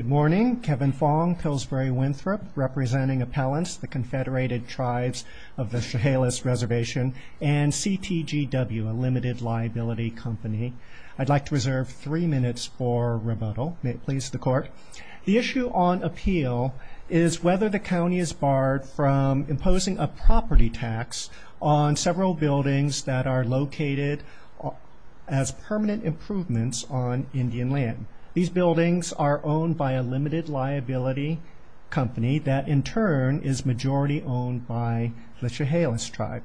Good morning. Kevin Fong, Pillsbury Winthrop, representing appellants, the Confederated Tribes of the Chehalis Reservation and CTGW, a limited liability company. I'd like to reserve three minutes for rebuttal. May it please the court. The issue on appeal is whether the county is barred from imposing a property tax on several buildings that are located as permanent improvements on a limited liability company that in turn is majority owned by the Chehalis tribe.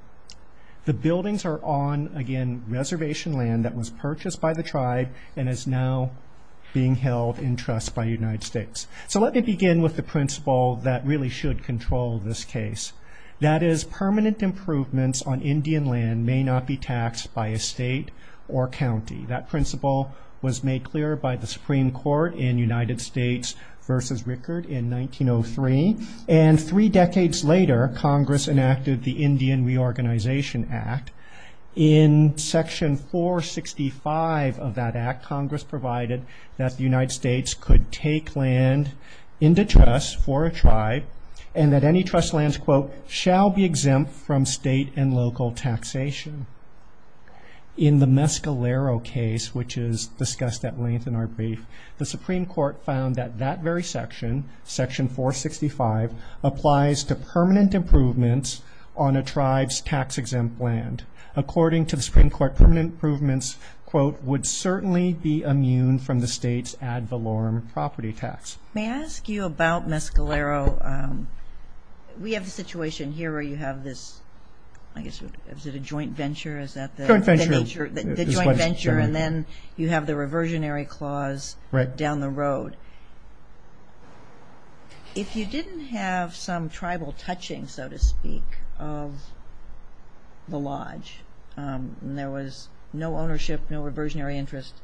The buildings are on, again, reservation land that was purchased by the tribe and is now being held in trust by United States. So let me begin with the principle that really should control this case. That is, permanent improvements on Indian land may not be taxed by a state or county. That principle was made clear by the Supreme Court in United States v. Rickard in 1903. And three decades later, Congress enacted the Indian Reorganization Act. In section 465 of that act, Congress provided that the United States could take land into trust for a tribe and that any trust lands, quote, shall be exempt from state and county tax. May I ask you about Mescalero? We have a situation here where you have this, I guess, is it a joint venture? Is that the nature? The joint venture. And then you have the reversionary clause down the road. If you didn't have some tribal touching, so to speak, of the lodge and there was no ownership, no reversionary interest,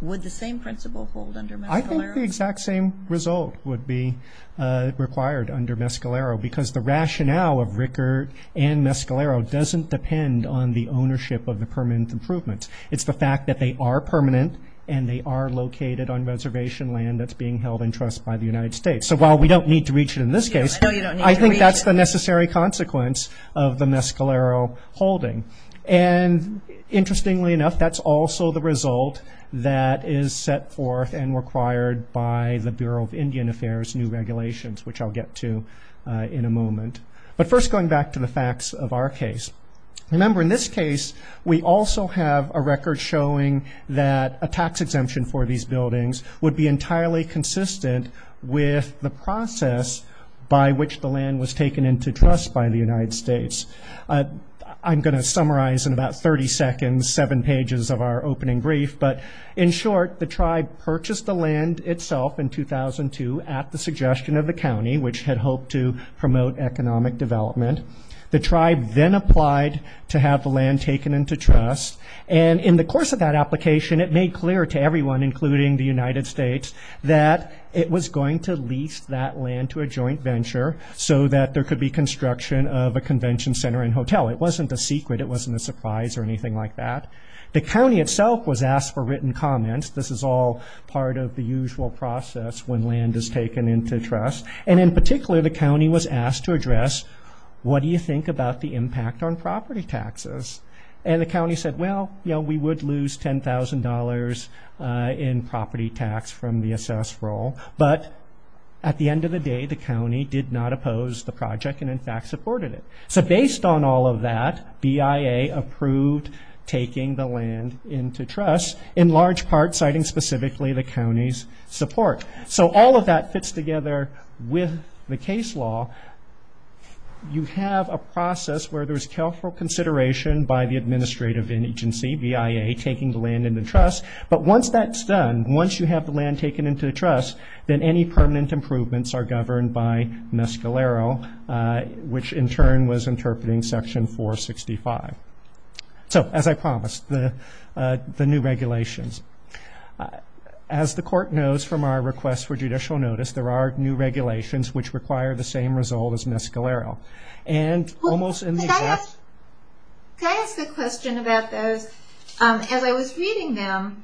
would the same principle hold under Mescalero? I think the exact same result would be required under Mescalero because the rationale of Rickard and Mescalero doesn't depend on the ownership of the permanent improvements. It's the fact that they are permanent and they are located on reservation land that's being held in trust by the United States. So while we don't need to reach it in this case, I think that's the necessary consequence of the Mescalero holding. And interestingly enough, that's also the result that is set forth and required by the Bureau of Indian Affairs new regulations, which I'll get to in a moment. But first, going back to the facts of our case. Remember, in this case, we also have a record showing that a tax exemption for these buildings would be entirely consistent with the process by which the land was taken into trust by the United States. I'm going to summarize in about 30 seconds seven pages of our opening brief, but in short, the tribe purchased the land itself in 2002 at the suggestion of the county, which had hoped to promote economic development. The tribe then applied to have the land taken into trust, and in the course of that application, it made clear to everyone, including the United States, that it was going to lease that land to a joint venture so that there could be construction of a convention center and hotel. It wasn't a secret. It wasn't a surprise or anything like that. The county itself was asked for written comments. This is all part of the usual process when land is taken into trust. And in particular, the county was asked to address, what do you think about the impact on property taxes? And the county said, well, you know, we would lose $10,000 in property tax from the assessed role. But at the end of the day, the county did not oppose the project and, in fact, supported it. So based on all of that, BIA approved taking the land into trust, in large part citing specifically the county's support. So all of that fits together with the case law. You have a process where there's careful consideration by the administrative agency, BIA, taking the land into trust. But once that's done, once you have the land taken into the trust, then any permanent improvements are governed by Mescalero, which in turn was new regulations. As the court knows from our request for judicial notice, there are new regulations which require the same result as Mescalero. And almost in the exact... Can I ask a question about those? As I was reading them,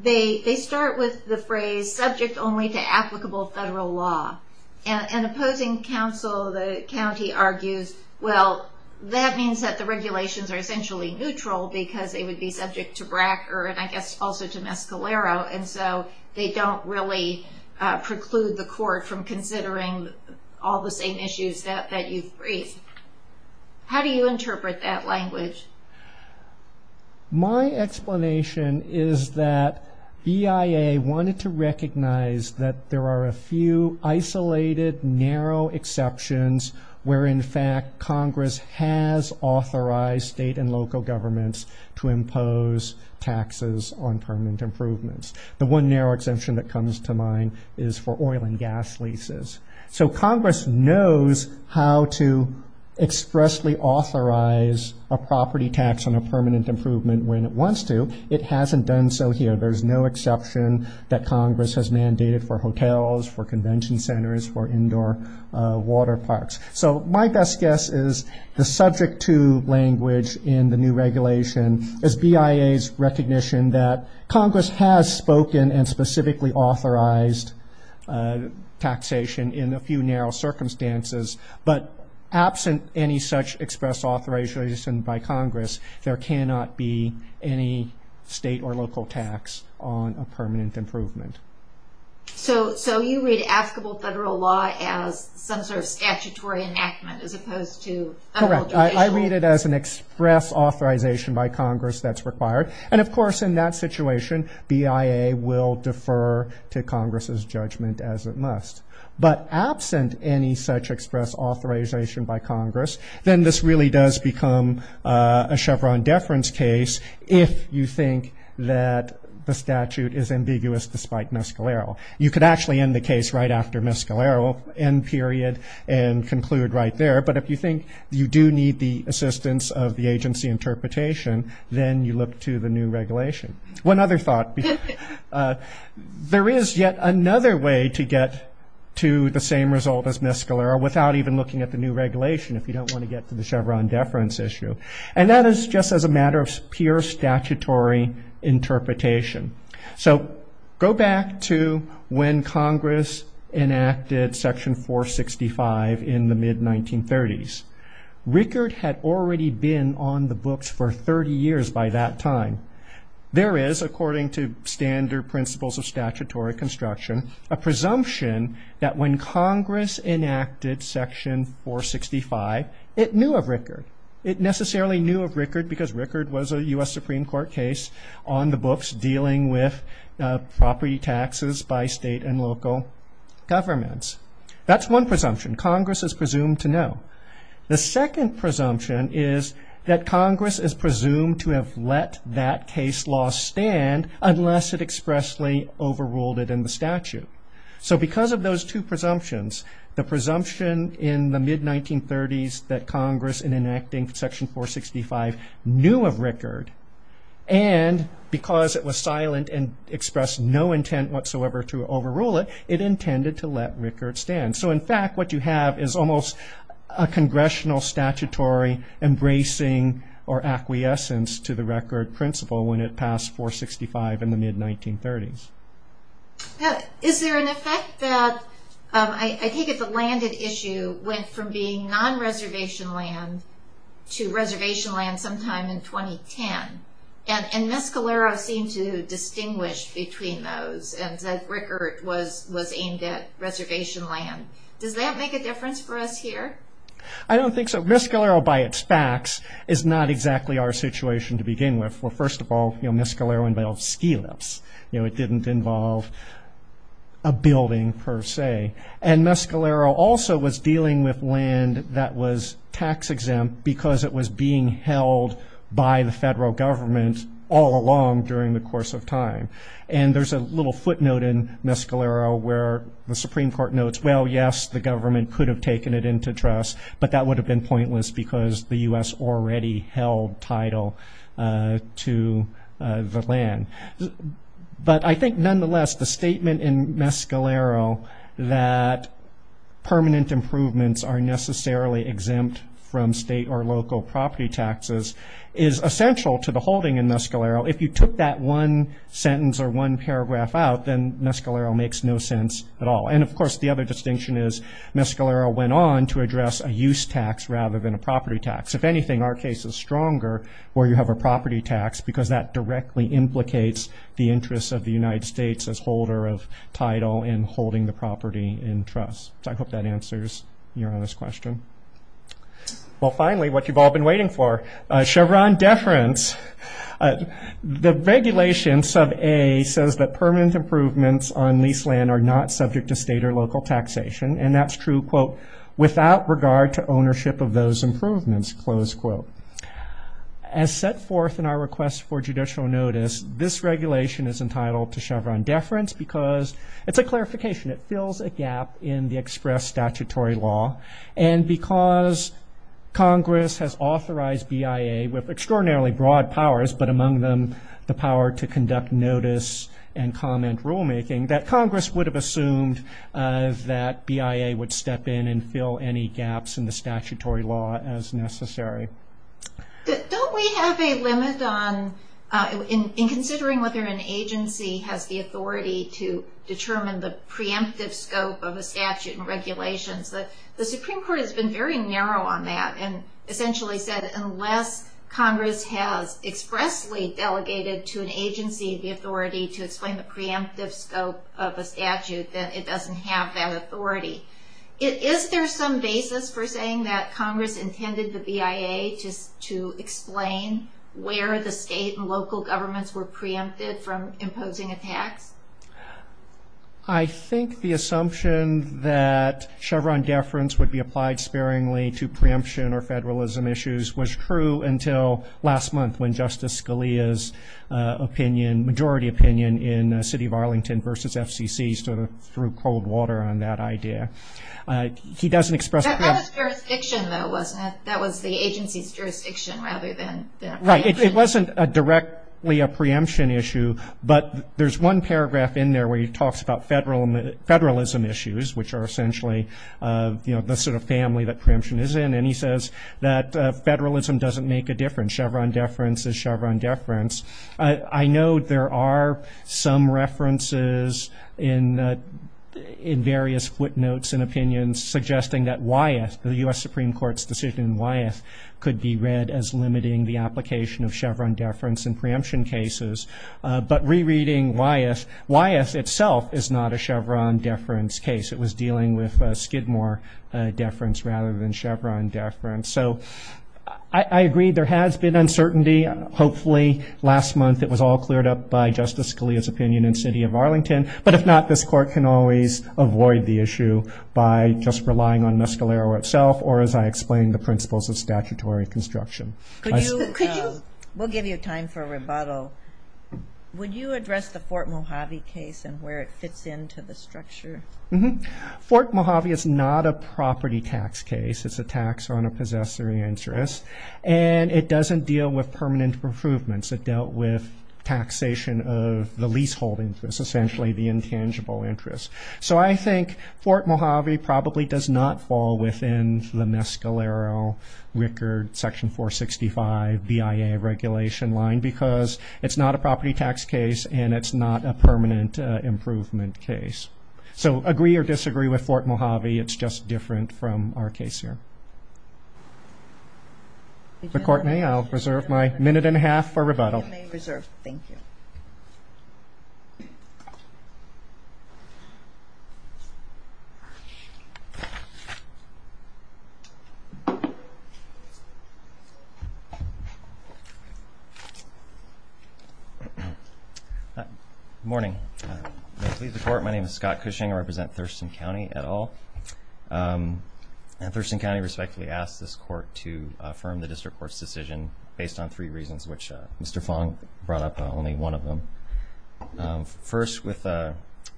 they start with the phrase, subject only to applicable federal law. And opposing counsel, the county argues, well, that means that the regulations are essentially neutral because they would be subject to BRAC or, I guess, also to Mescalero. And so they don't really preclude the court from considering all the same issues that you've raised. How do you interpret that language? My explanation is that BIA wanted to recognize that there are a few isolated, narrow exceptions where, in fact, Congress has authorized state and local governments to impose taxes on permanent improvements. The one narrow exemption that comes to mind is for oil and gas leases. So Congress knows how to expressly authorize a property tax on a permanent improvement when it wants to. It hasn't done so here. There's no exception that Congress has mandated for hotels, for convention centers, for indoor water parks. So my best guess is the subject to language in the new regulation is BIA's recognition that Congress has spoken and specifically authorized taxation in a few narrow circumstances. But absent any such express authorization by Congress, there cannot be any state or local tax on a permanent improvement. So you read applicable federal law as some sort of statutory enactment as opposed to federal judicial? Correct. I read it as an express authorization by Congress that's required. And, of course, in that situation, BIA will defer to Congress's judgment as it must. But absent any such express authorization by Congress, then this really does become a Chevron deference case if you think that the statute is miscleral. You could actually end the case right after miscleral, end period, and conclude right there. But if you think you do need the assistance of the agency interpretation, then you look to the new regulation. One other thought. There is yet another way to get to the same result as miscleral without even looking at the new regulation if you don't want to get to the Chevron deference issue. And that is just as a matter of pure statutory interpretation. So go back to when Congress enacted Section 465 in the mid-1930s. RICARD had already been on the books for 30 years by that time. There is, according to standard principles of statutory construction, a presumption that when Congress enacted Section 465, it knew of RICARD. It necessarily knew of RICARD because RICARD was a U.S. Supreme Court case on the books dealing with property taxes by state and local governments. That's one presumption. Congress is presumed to know. The second presumption is that Congress is presumed to have let that case law stand unless it expressly overruled it in the statute. So because of those two presumptions, the presumption in the mid-1930s that Section 465 knew of RICARD and because it was silent and expressed no intent whatsoever to overrule it, it intended to let RICARD stand. So in fact what you have is almost a congressional statutory embracing or acquiescence to the RICARD principle when it passed 465 in the mid-1930s. Is there an effect that, I take it the landed issue went from being non-reservation land to reservation land sometime in 2010? And Mescalero seemed to distinguish between those and said RICARD was aimed at reservation land. Does that make a difference for us here? I don't think so. Mescalero by its facts is not exactly our situation to begin with. Well, first of all, Mescalero involved ski lifts. It didn't involve a building per se. And Mescalero also was dealing with land that was tax exempt because it was being held by the federal government all along during the course of time. And there's a little footnote in Mescalero where the Supreme Court notes, well, yes, the government could have taken it into trust, but that would have been pointless because the U.S. already held title to the land. So the distinction that permanent improvements are necessarily exempt from state or local property taxes is essential to the holding in Mescalero. If you took that one sentence or one paragraph out, then Mescalero makes no sense at all. And, of course, the other distinction is Mescalero went on to address a use tax rather than a property tax. If anything, our case is stronger where you have a property tax because that directly implicates the interests of the United States as holder of title and holding the property in trust. So I hope that answers your honest question. Well, finally, what you've all been waiting for, Chevron deference. The regulation, sub A, says that permanent improvements on leased land are not subject to state or local taxation. And that's true, quote, without regard to ownership of those improvements, close quote. As set forth in our request for judicial notice, this regulation is entitled to Chevron deference because it's a clarification. It fills a gap in the express statutory law. And because Congress has authorized BIA with extraordinarily broad powers, but among them the power to conduct notice and comment rulemaking, that Congress would have assumed that BIA would step in and fill any gaps in the statutory law as necessary. Don't we have a limit on, in considering whether an agency has the authority to determine the preemptive scope of a statute and regulations? The Supreme Court has been very narrow on that and essentially said unless Congress has expressly delegated to an agency the authority to explain the preemptive scope of a statute, then it doesn't have that authority. Is there some basis for saying that Congress intended the BIA to explain where the state and local governments were preempted from imposing a tax? I think the assumption that Chevron deference would be applied sparingly to preemption or federalism issues was true until last month when Justice Scalia's opinion, majority opinion in the city of Arlington versus FCC sort of threw cold water on that idea. That was the agency's jurisdiction rather than preemption. It wasn't directly a preemption issue, but there's one paragraph in there where he talks about federalism issues, which are essentially the sort of family that preemption is in, and he says that federalism doesn't make a difference. Chevron deference is Chevron deference. I know there are some references in various footnotes and opinions suggesting that Wyeth, the U.S. Supreme Court's decision in Wyeth, could be read as limiting the application of Chevron deference in preemption cases, but rereading Wyeth, Wyeth itself is not a Chevron deference case. It was dealing with Skidmore deference rather than Chevron deference. So I agree there has been uncertainty. Hopefully last month it was all cleared up by Justice Scalia's opinion in the city of Arlington, but if not, this court can always avoid the issue by just relying on Mescalero itself, or as I explained, the principles of statutory construction. Would you address the Fort Mojave case and where it fits into the structure? Fort Mojave is not a property tax case. It's a tax on a possessory interest, and it doesn't deal with permanent improvements. It dealt with taxation of the leasehold interest, essentially the intangible interest. So I think Fort Mojave probably does not fall within the Mescalero, Rickard, Section 465, BIA regulation line, because it's not a property tax case and it's not a permanent improvement case. So agree or disagree with Fort Mojave, it's just different from our case here. If the court may, I'll reserve my minute and a half for rebuttal. Good morning. May it please the court, my name is Scott Cushing. I represent Thurston County et al. And Thurston County respectfully asks this court to affirm the district court's decision based on three reasons, which Mr. Fong brought up only one of them. First,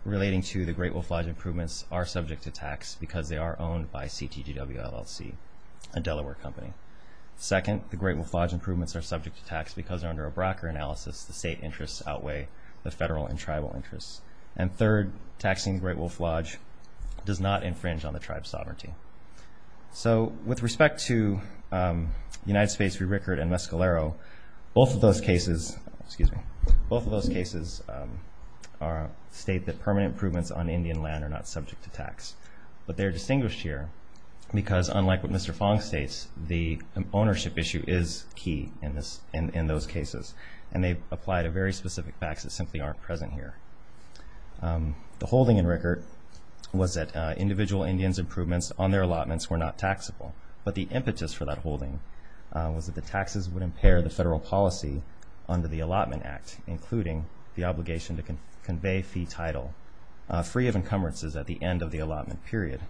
relating to the Great Wolf Lodge improvements are subject to tax because they are owned by CTGW LLC, a Delaware company. Second, the Great Wolf Lodge improvements are subject to tax because under a Brocker analysis, the state interests outweigh the federal and tribal interests. They infringe on the tribe's sovereignty. So with respect to United States v. Rickard and Mescalero, both of those cases, excuse me, state that permanent improvements on Indian land are not subject to tax. But they're distinguished here because unlike what Mr. Fong states, the ownership issue is key in those cases. And they apply to very specific facts that simply aren't present here. The holding in Rickard was that individual Indians' improvements on their allotments were not taxable. But the impetus for that holding was that the taxes would impair the federal policy under the Allotment Act, including the obligation to convey fee title free of encumbrances at the end of the allotment period.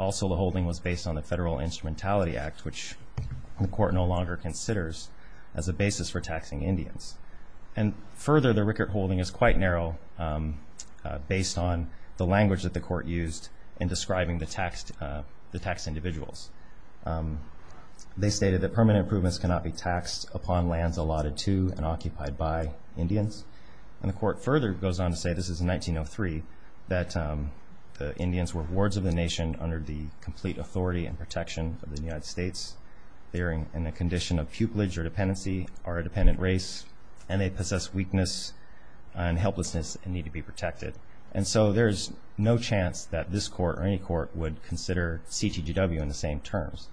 Also, the holding was based on the Federal Instrumentality Act, which the court no longer considers as a basis for taxing Indians. And further, the Rickard holding is quite narrow based on the language that the court used in describing the taxed individuals. They stated that permanent improvements cannot be taxed upon lands allotted to and occupied by Indians. And the court further goes on to say, this is in 1903, that the Indians were wards of the nation under the complete authority and protection of the United States. They're in a condition of pupillage or dependency or a dependent race. And they possess weakness and helplessness and need to be protected. And so there's no chance that this court or any court would consider CTGW in the same terms.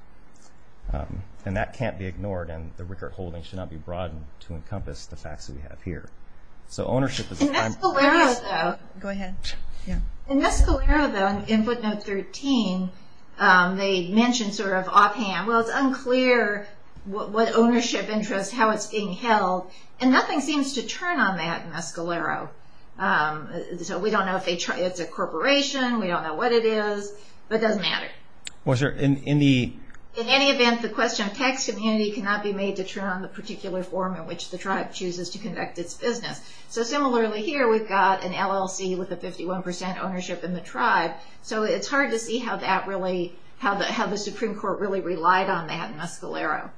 And that can't be ignored and the Rickard holding should not be broadened to encompass the facts that we have here. In Mescalero though, in footnote 13, they mention sort of offhand, well it's unclear what ownership interest, how it's being held. And nothing seems to turn on that in Mescalero. So we don't know if it's a corporation, we don't know what it is, but it doesn't matter. In any event, the question of tax immunity cannot be made to turn on the particular form in which the tribe chooses to conduct its business. So similarly here, we've got an LLC with a 51% ownership in the tribe. So it's hard to see how the Supreme Court really relied on that in Mescalero.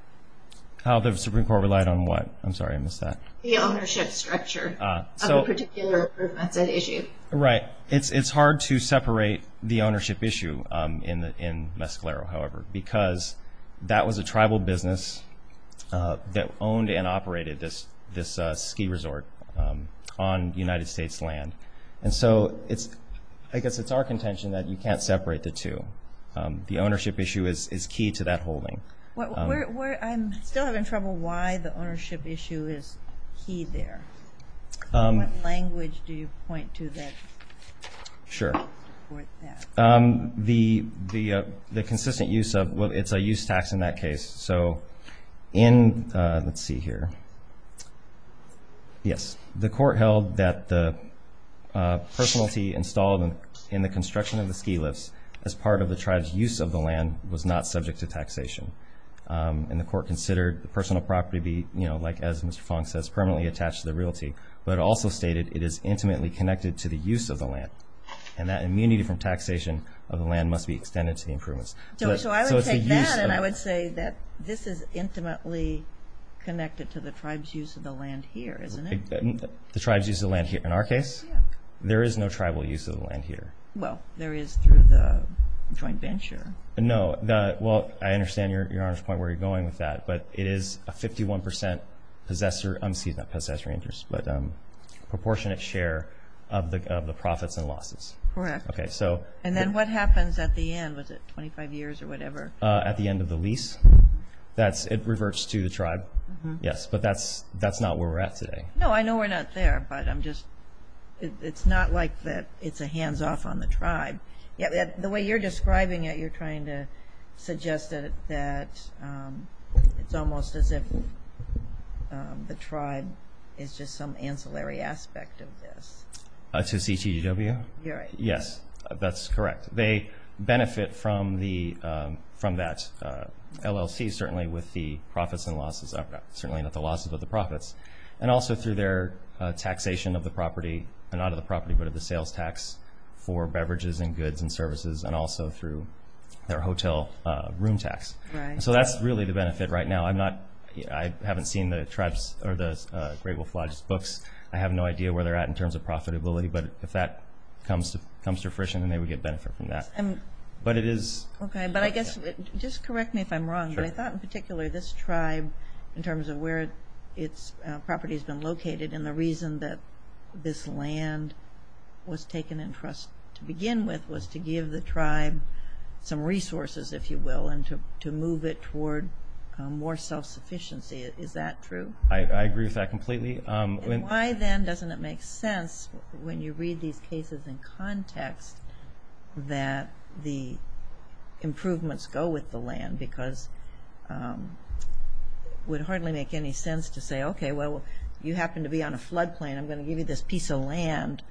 How the Supreme Court relied on what? I'm sorry, I missed that. The ownership structure of a particular group that's at issue. It's hard to separate the ownership issue in Mescalero, however, because that was a tribal business that owned and operated this ski resort on United States land. And so I guess it's our contention that you can't separate the two. The ownership issue is key to that holding. I'm still having trouble why the ownership issue is key there. What language do you point to that supports that? The consistent use of, well, it's a use tax in that case. So in, let's see here, yes. The court held that the personality installed in the construction of the ski lifts as part of the tribe's use of the land was not subject to taxation. And the court considered the personal property be, like as Mr. Fong says, permanently attached to the realty. But it also stated it is intimately connected to the use of the land. And that immunity from taxation of the land must be extended to the improvements. So I would take that and I would say that this is intimately connected to the tribe's use of the land here, isn't it? The tribe's use of the land here, in our case? There is no tribal use of the land here. Well, there is through the joint venture. No, well, I understand Your Honor's point where you're going with that. But it is a 51% proportionate share of the profits and losses. Correct. Okay, so. And then what happens at the end? Was it 25 years or whatever? At the end of the lease? It reverts to the tribe, yes. But that's not where we're at today. No, I know we're not there. But I'm just, it's not like that it's a hands-off on the tribe. The way you're describing it, you're trying to suggest that it's almost as if the tribe is just some ancillary aspect of this. To CTGW? You're right. Yes, that's correct. They benefit from that LLC, certainly with the profits and losses. Certainly not the losses, but the profits. And also through their taxation of the property. And not of the property, but of the sales tax for beverages and goods and services. And also through their hotel room tax. Right. So that's really the benefit right now. I'm not, I haven't seen the tribe's or the Great Wolf Lodge's books. I have no idea where they're at in terms of profitability. But if that comes to fruition, then they would get benefit from that. But it is. Okay, but I guess, just correct me if I'm wrong. Sure. But I thought in particular this tribe, in terms of where its property has been located, and the reason that this land was taken in for us to begin with, was to give the tribe some resources, if you will, and to move it toward more self-sufficiency. Is that true? I agree with that completely. And why then doesn't it make sense, when you read these cases in context, that the improvements go with the land? Because it would hardly make any sense to say, okay, well, you happen to be on a flood plain, I'm going to give you this piece of land,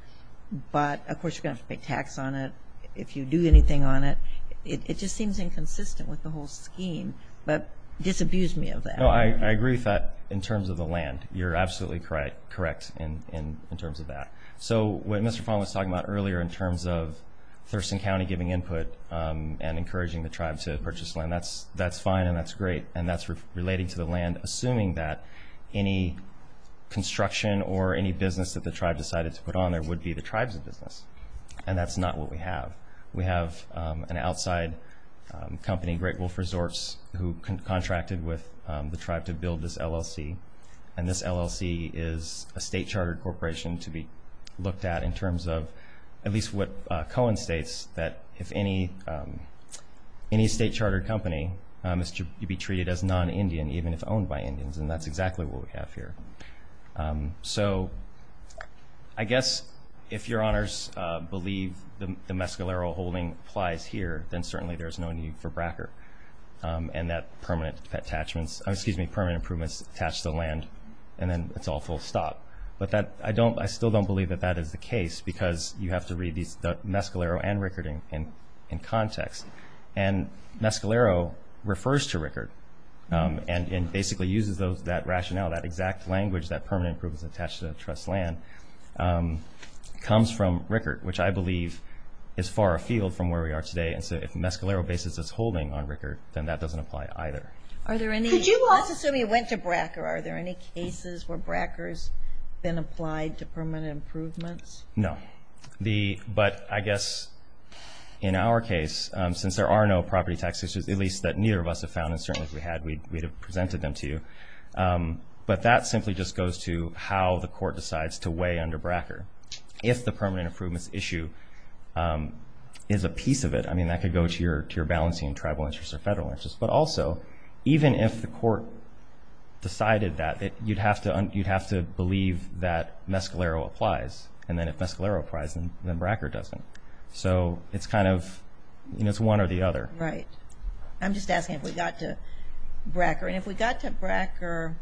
but of course you're going to have to pay tax on it if you do anything on it. It just seems inconsistent with the whole scheme. But disabuse me of that. No, I agree with that in terms of the land. You're absolutely correct in terms of that. So what Mr. Fong was talking about earlier in terms of Thurston County giving input and encouraging the tribe to purchase land, that's fine and that's great, and that's relating to the land, assuming that any construction or any business that the tribe decided to put on there would be the tribe's business. And that's not what we have. We have an outside company, Great Wolf Resorts, who contracted with the tribe to build this LLC, and this LLC is a state-chartered corporation to be looked at in terms of, at least what Cohen states, that if any state-chartered company is to be treated as non-Indian, even if owned by Indians, and that's exactly what we have here. So I guess if your honors believe the mescalero holding applies here, then certainly there's no need for BRACR, and that permanent improvements attach to the land, and then it's all full stop. But I still don't believe that that is the case because you have to read the mescalero and RICARD in context. And mescalero refers to RICARD and basically uses that rationale, that exact language, that permanent improvements attach to the trust land, comes from RICARD, which I believe is far afield from where we are today. And so if mescalero basis is holding on RICARD, then that doesn't apply either. Let's assume you went to BRACR. Are there any cases where BRACR has been applied to permanent improvements? No. But I guess in our case, since there are no property tax issues, at least that neither of us have found, and certainly if we had, we'd have presented them to you. But that simply just goes to how the court decides to weigh under BRACR. If the permanent improvements issue is a piece of it, I mean that could go to your balancing tribal interests or federal interests. But also, even if the court decided that, you'd have to believe that mescalero applies. And then if mescalero applies, then BRACR doesn't. So it's kind of, you know, it's one or the other. Right. I'm just asking if we got to BRACR. And if we got to BRACR,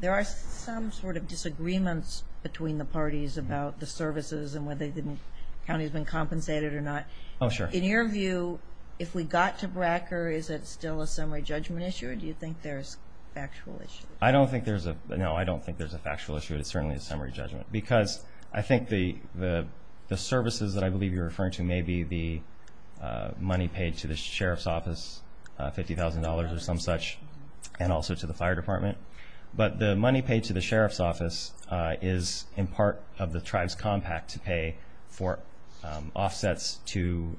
there are some sort of disagreements between the parties about the services and whether the county's been compensated or not. Oh, sure. In your view, if we got to BRACR, is it still a summary judgment issue or do you think there's factual issues? I don't think there's a factual issue. It's certainly a summary judgment. Because I think the services that I believe you're referring to may be the money paid to the sheriff's office, $50,000 or some such, and also to the fire department. But the money paid to the sheriff's office is in part of the tribe's compact to pay for offsets to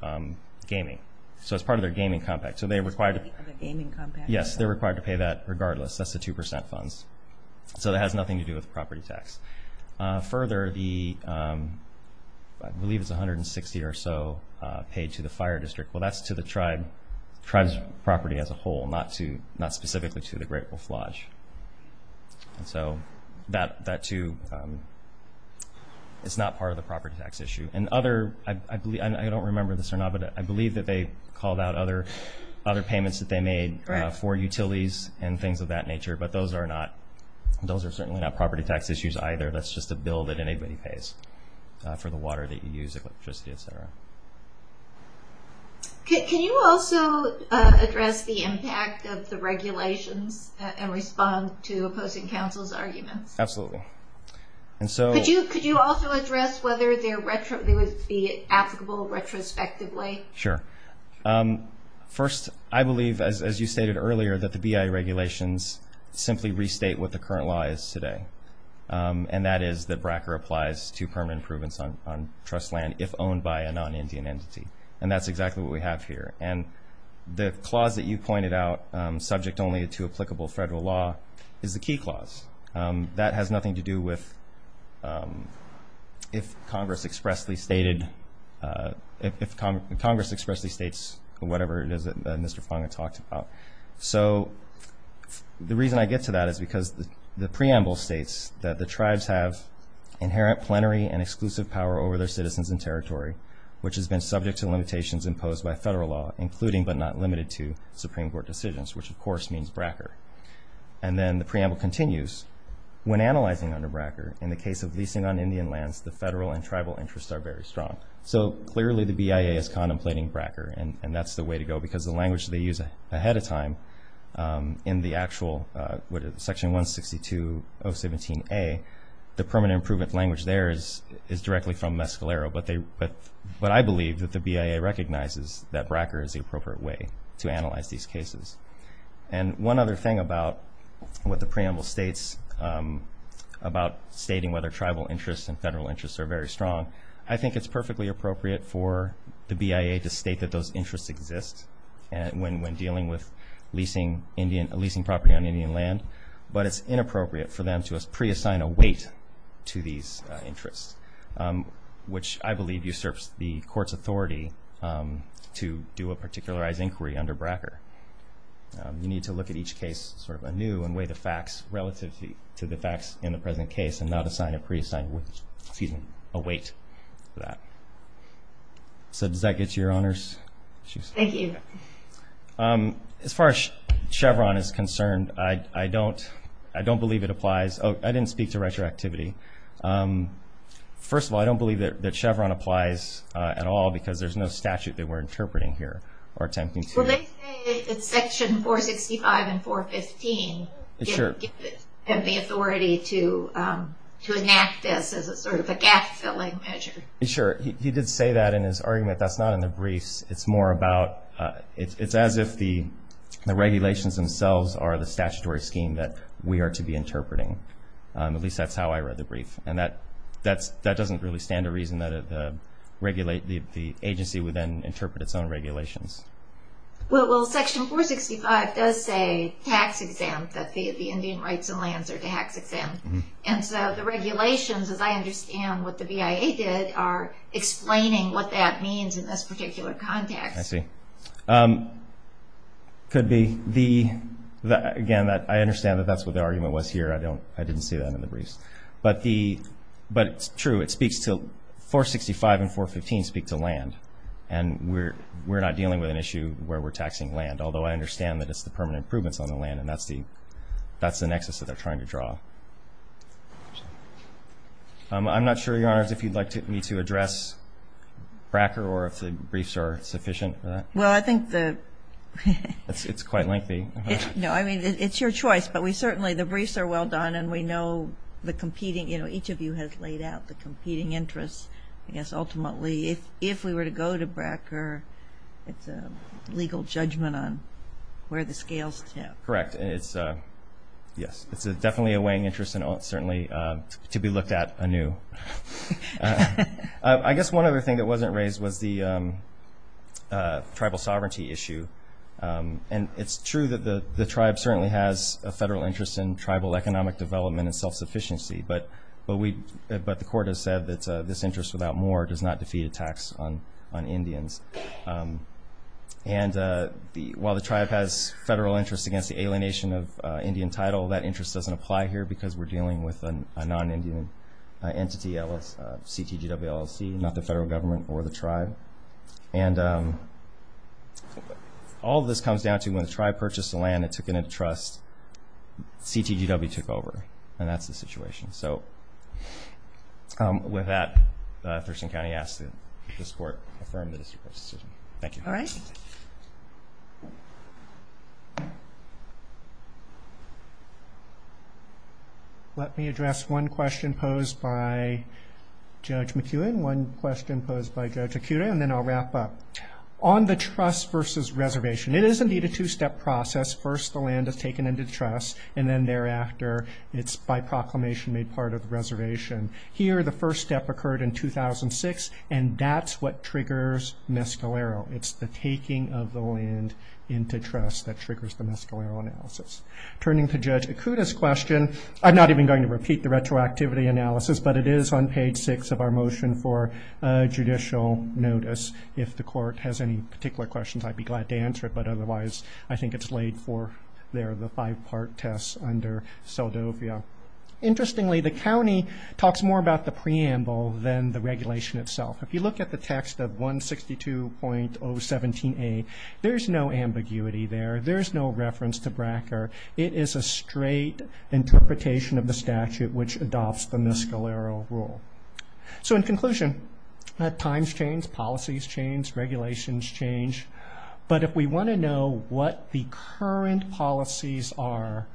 gaming. So it's part of their gaming compact. So they're required to pay that regardless. That's the 2% funds. So it has nothing to do with property tax. Further, I believe it's $160 or so paid to the fire district. Well, that's to the tribe's property as a whole, not specifically to the Great Wolf Lodge. So that, too, is not part of the property tax issue. And I don't remember this or not, but I believe that they called out other payments that they made for utilities and things of that nature. But those are certainly not property tax issues either. That's just a bill that anybody pays for the water that you use, electricity, et cetera. Can you also address the impact of the regulations and respond to opposing counsel's arguments? Absolutely. Could you also address whether they would be applicable retrospectively? Sure. First, I believe, as you stated earlier, that the BI regulations simply restate what the current law is today. And that is that BRACA applies to permanent improvements on trust land if owned by a non-Indian entity. And that's exactly what we have here. And the clause that you pointed out, subject only to applicable federal law, is the key clause. That has nothing to do with if Congress expressly states whatever it is that Mr. Fonga talked about. So the reason I get to that is because the preamble states that the tribes have inherent plenary and exclusive power over their citizens and territory, which has been subject to limitations imposed by federal law, including but not limited to Supreme Court decisions, which, of course, means BRACA. And then the preamble continues. When analyzing under BRACA, in the case of leasing on Indian lands, the federal and tribal interests are very strong. So clearly the BIA is contemplating BRACA. And that's the way to go because the language they use ahead of time in the actual Section 162.017a, the permanent improvement language there is directly from Mescalero. But I believe that the BIA recognizes that BRACA is the appropriate way to analyze these cases. And one other thing about what the preamble states about stating whether tribal interests and federal interests are very strong, I think it's perfectly appropriate for the BIA to state that those interests exist when dealing with leasing property on Indian land, but it's inappropriate for them to preassign a weight to these interests, which I believe usurps the Court's authority to do a particularized inquiry under BRACA. You need to look at each case sort of anew and weigh the facts relative to the facts in the present case and not assign a preassigned weight to that. So does that get to your Honors? Thank you. As far as Chevron is concerned, I don't believe it applies. I didn't speak to retroactivity. First of all, I don't believe that Chevron applies at all because there's no statute that we're interpreting here or attempting to. Will they say that Section 465 and 415 give them the authority to enact this as sort of a gap-filling measure? Sure. He did say that in his argument. That's not in the briefs. It's more about it's as if the regulations themselves are the statutory scheme that we are to be interpreting. At least that's how I read the brief. And that doesn't really stand to reason that the agency would then interpret its own regulations. Well, Section 465 does say tax exempt, that the Indian rights and lands are tax exempt. And so the regulations, as I understand what the BIA did, are explaining what that means in this particular context. I see. Could be. Again, I understand that that's what the argument was here. I didn't see that in the briefs. But it's true. It speaks to 465 and 415 speak to land. And we're not dealing with an issue where we're taxing land, although I understand that it's the permanent improvements on the land, and that's the nexus that they're trying to draw. I'm not sure, Your Honors, if you'd like me to address Bracker or if the briefs are sufficient for that. Well, I think the ---- It's quite lengthy. No, I mean, it's your choice. But we certainly ---- the briefs are well done, and we know the competing ---- you know, each of you has laid out the competing interests. I guess ultimately if we were to go to Bracker, it's a legal judgment on where the scales tip. Correct. Yes, it's definitely a weighing interest and certainly to be looked at anew. I guess one other thing that wasn't raised was the tribal sovereignty issue. And it's true that the tribe certainly has a federal interest in tribal economic development and self-sufficiency, but the court has said that this interest without more does not defeat a tax on Indians. And while the tribe has federal interest against the alienation of Indian title, that interest doesn't apply here because we're dealing with a non-Indian entity, CTGWLLC, not the federal government or the tribe. And all of this comes down to when the tribe purchased the land and took it into trust, CTGW took over, and that's the situation. So with that, Thurston County asks that this court affirm the district court's decision. Thank you. All right. Let me address one question posed by Judge McEwen, one question posed by Judge Ikuda, and then I'll wrap up. On the trust versus reservation, it is indeed a two-step process. First, the land is taken into trust, and then thereafter it's by proclamation made part of the reservation. Here, the first step occurred in 2006, and that's what triggers Mescalero. It's the taking of the land into trust that triggers the Mescalero analysis. Turning to Judge Ikuda's question, I'm not even going to repeat the retroactivity analysis, but it is on page 6 of our motion for judicial notice. If the court has any particular questions, I'd be glad to answer it, but otherwise I think it's laid forth there, the five-part test under Seldovia. Interestingly, the county talks more about the preamble than the regulation itself. If you look at the text of 162.017A, there's no ambiguity there. There's no reference to Bracker. It is a straight interpretation of the statute which adopts the Mescalero rule. In conclusion, times change, policies change, regulations change, but if we want to know what the current policies are,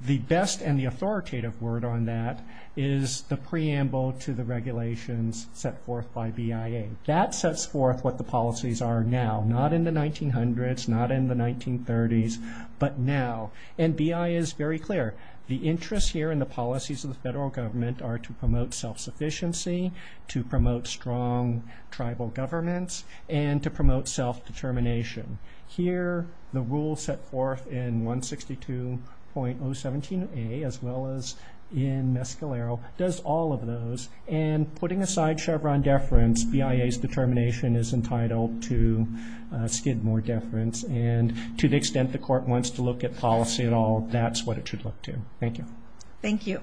the best and the authoritative word on that is the preamble to the regulations set forth by BIA. That sets forth what the policies are now, not in the 1900s, not in the 1930s, but now, and BIA is very clear. The interests here in the policies of the federal government are to promote self-sufficiency, to promote strong tribal governments, and to promote self-determination. Here, the rule set forth in 162.017A, as well as in Mescalero, does all of those, and putting aside Chevron deference, BIA's determination is entitled to Skidmore deference, and to the extent the court wants to look at policy at all, that's what it should look to. Thank you. Thank you.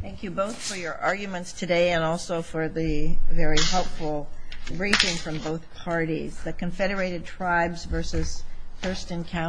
Thank you both for your arguments today and also for the very helpful briefing from both parties. The Confederated Tribes versus Thurston County.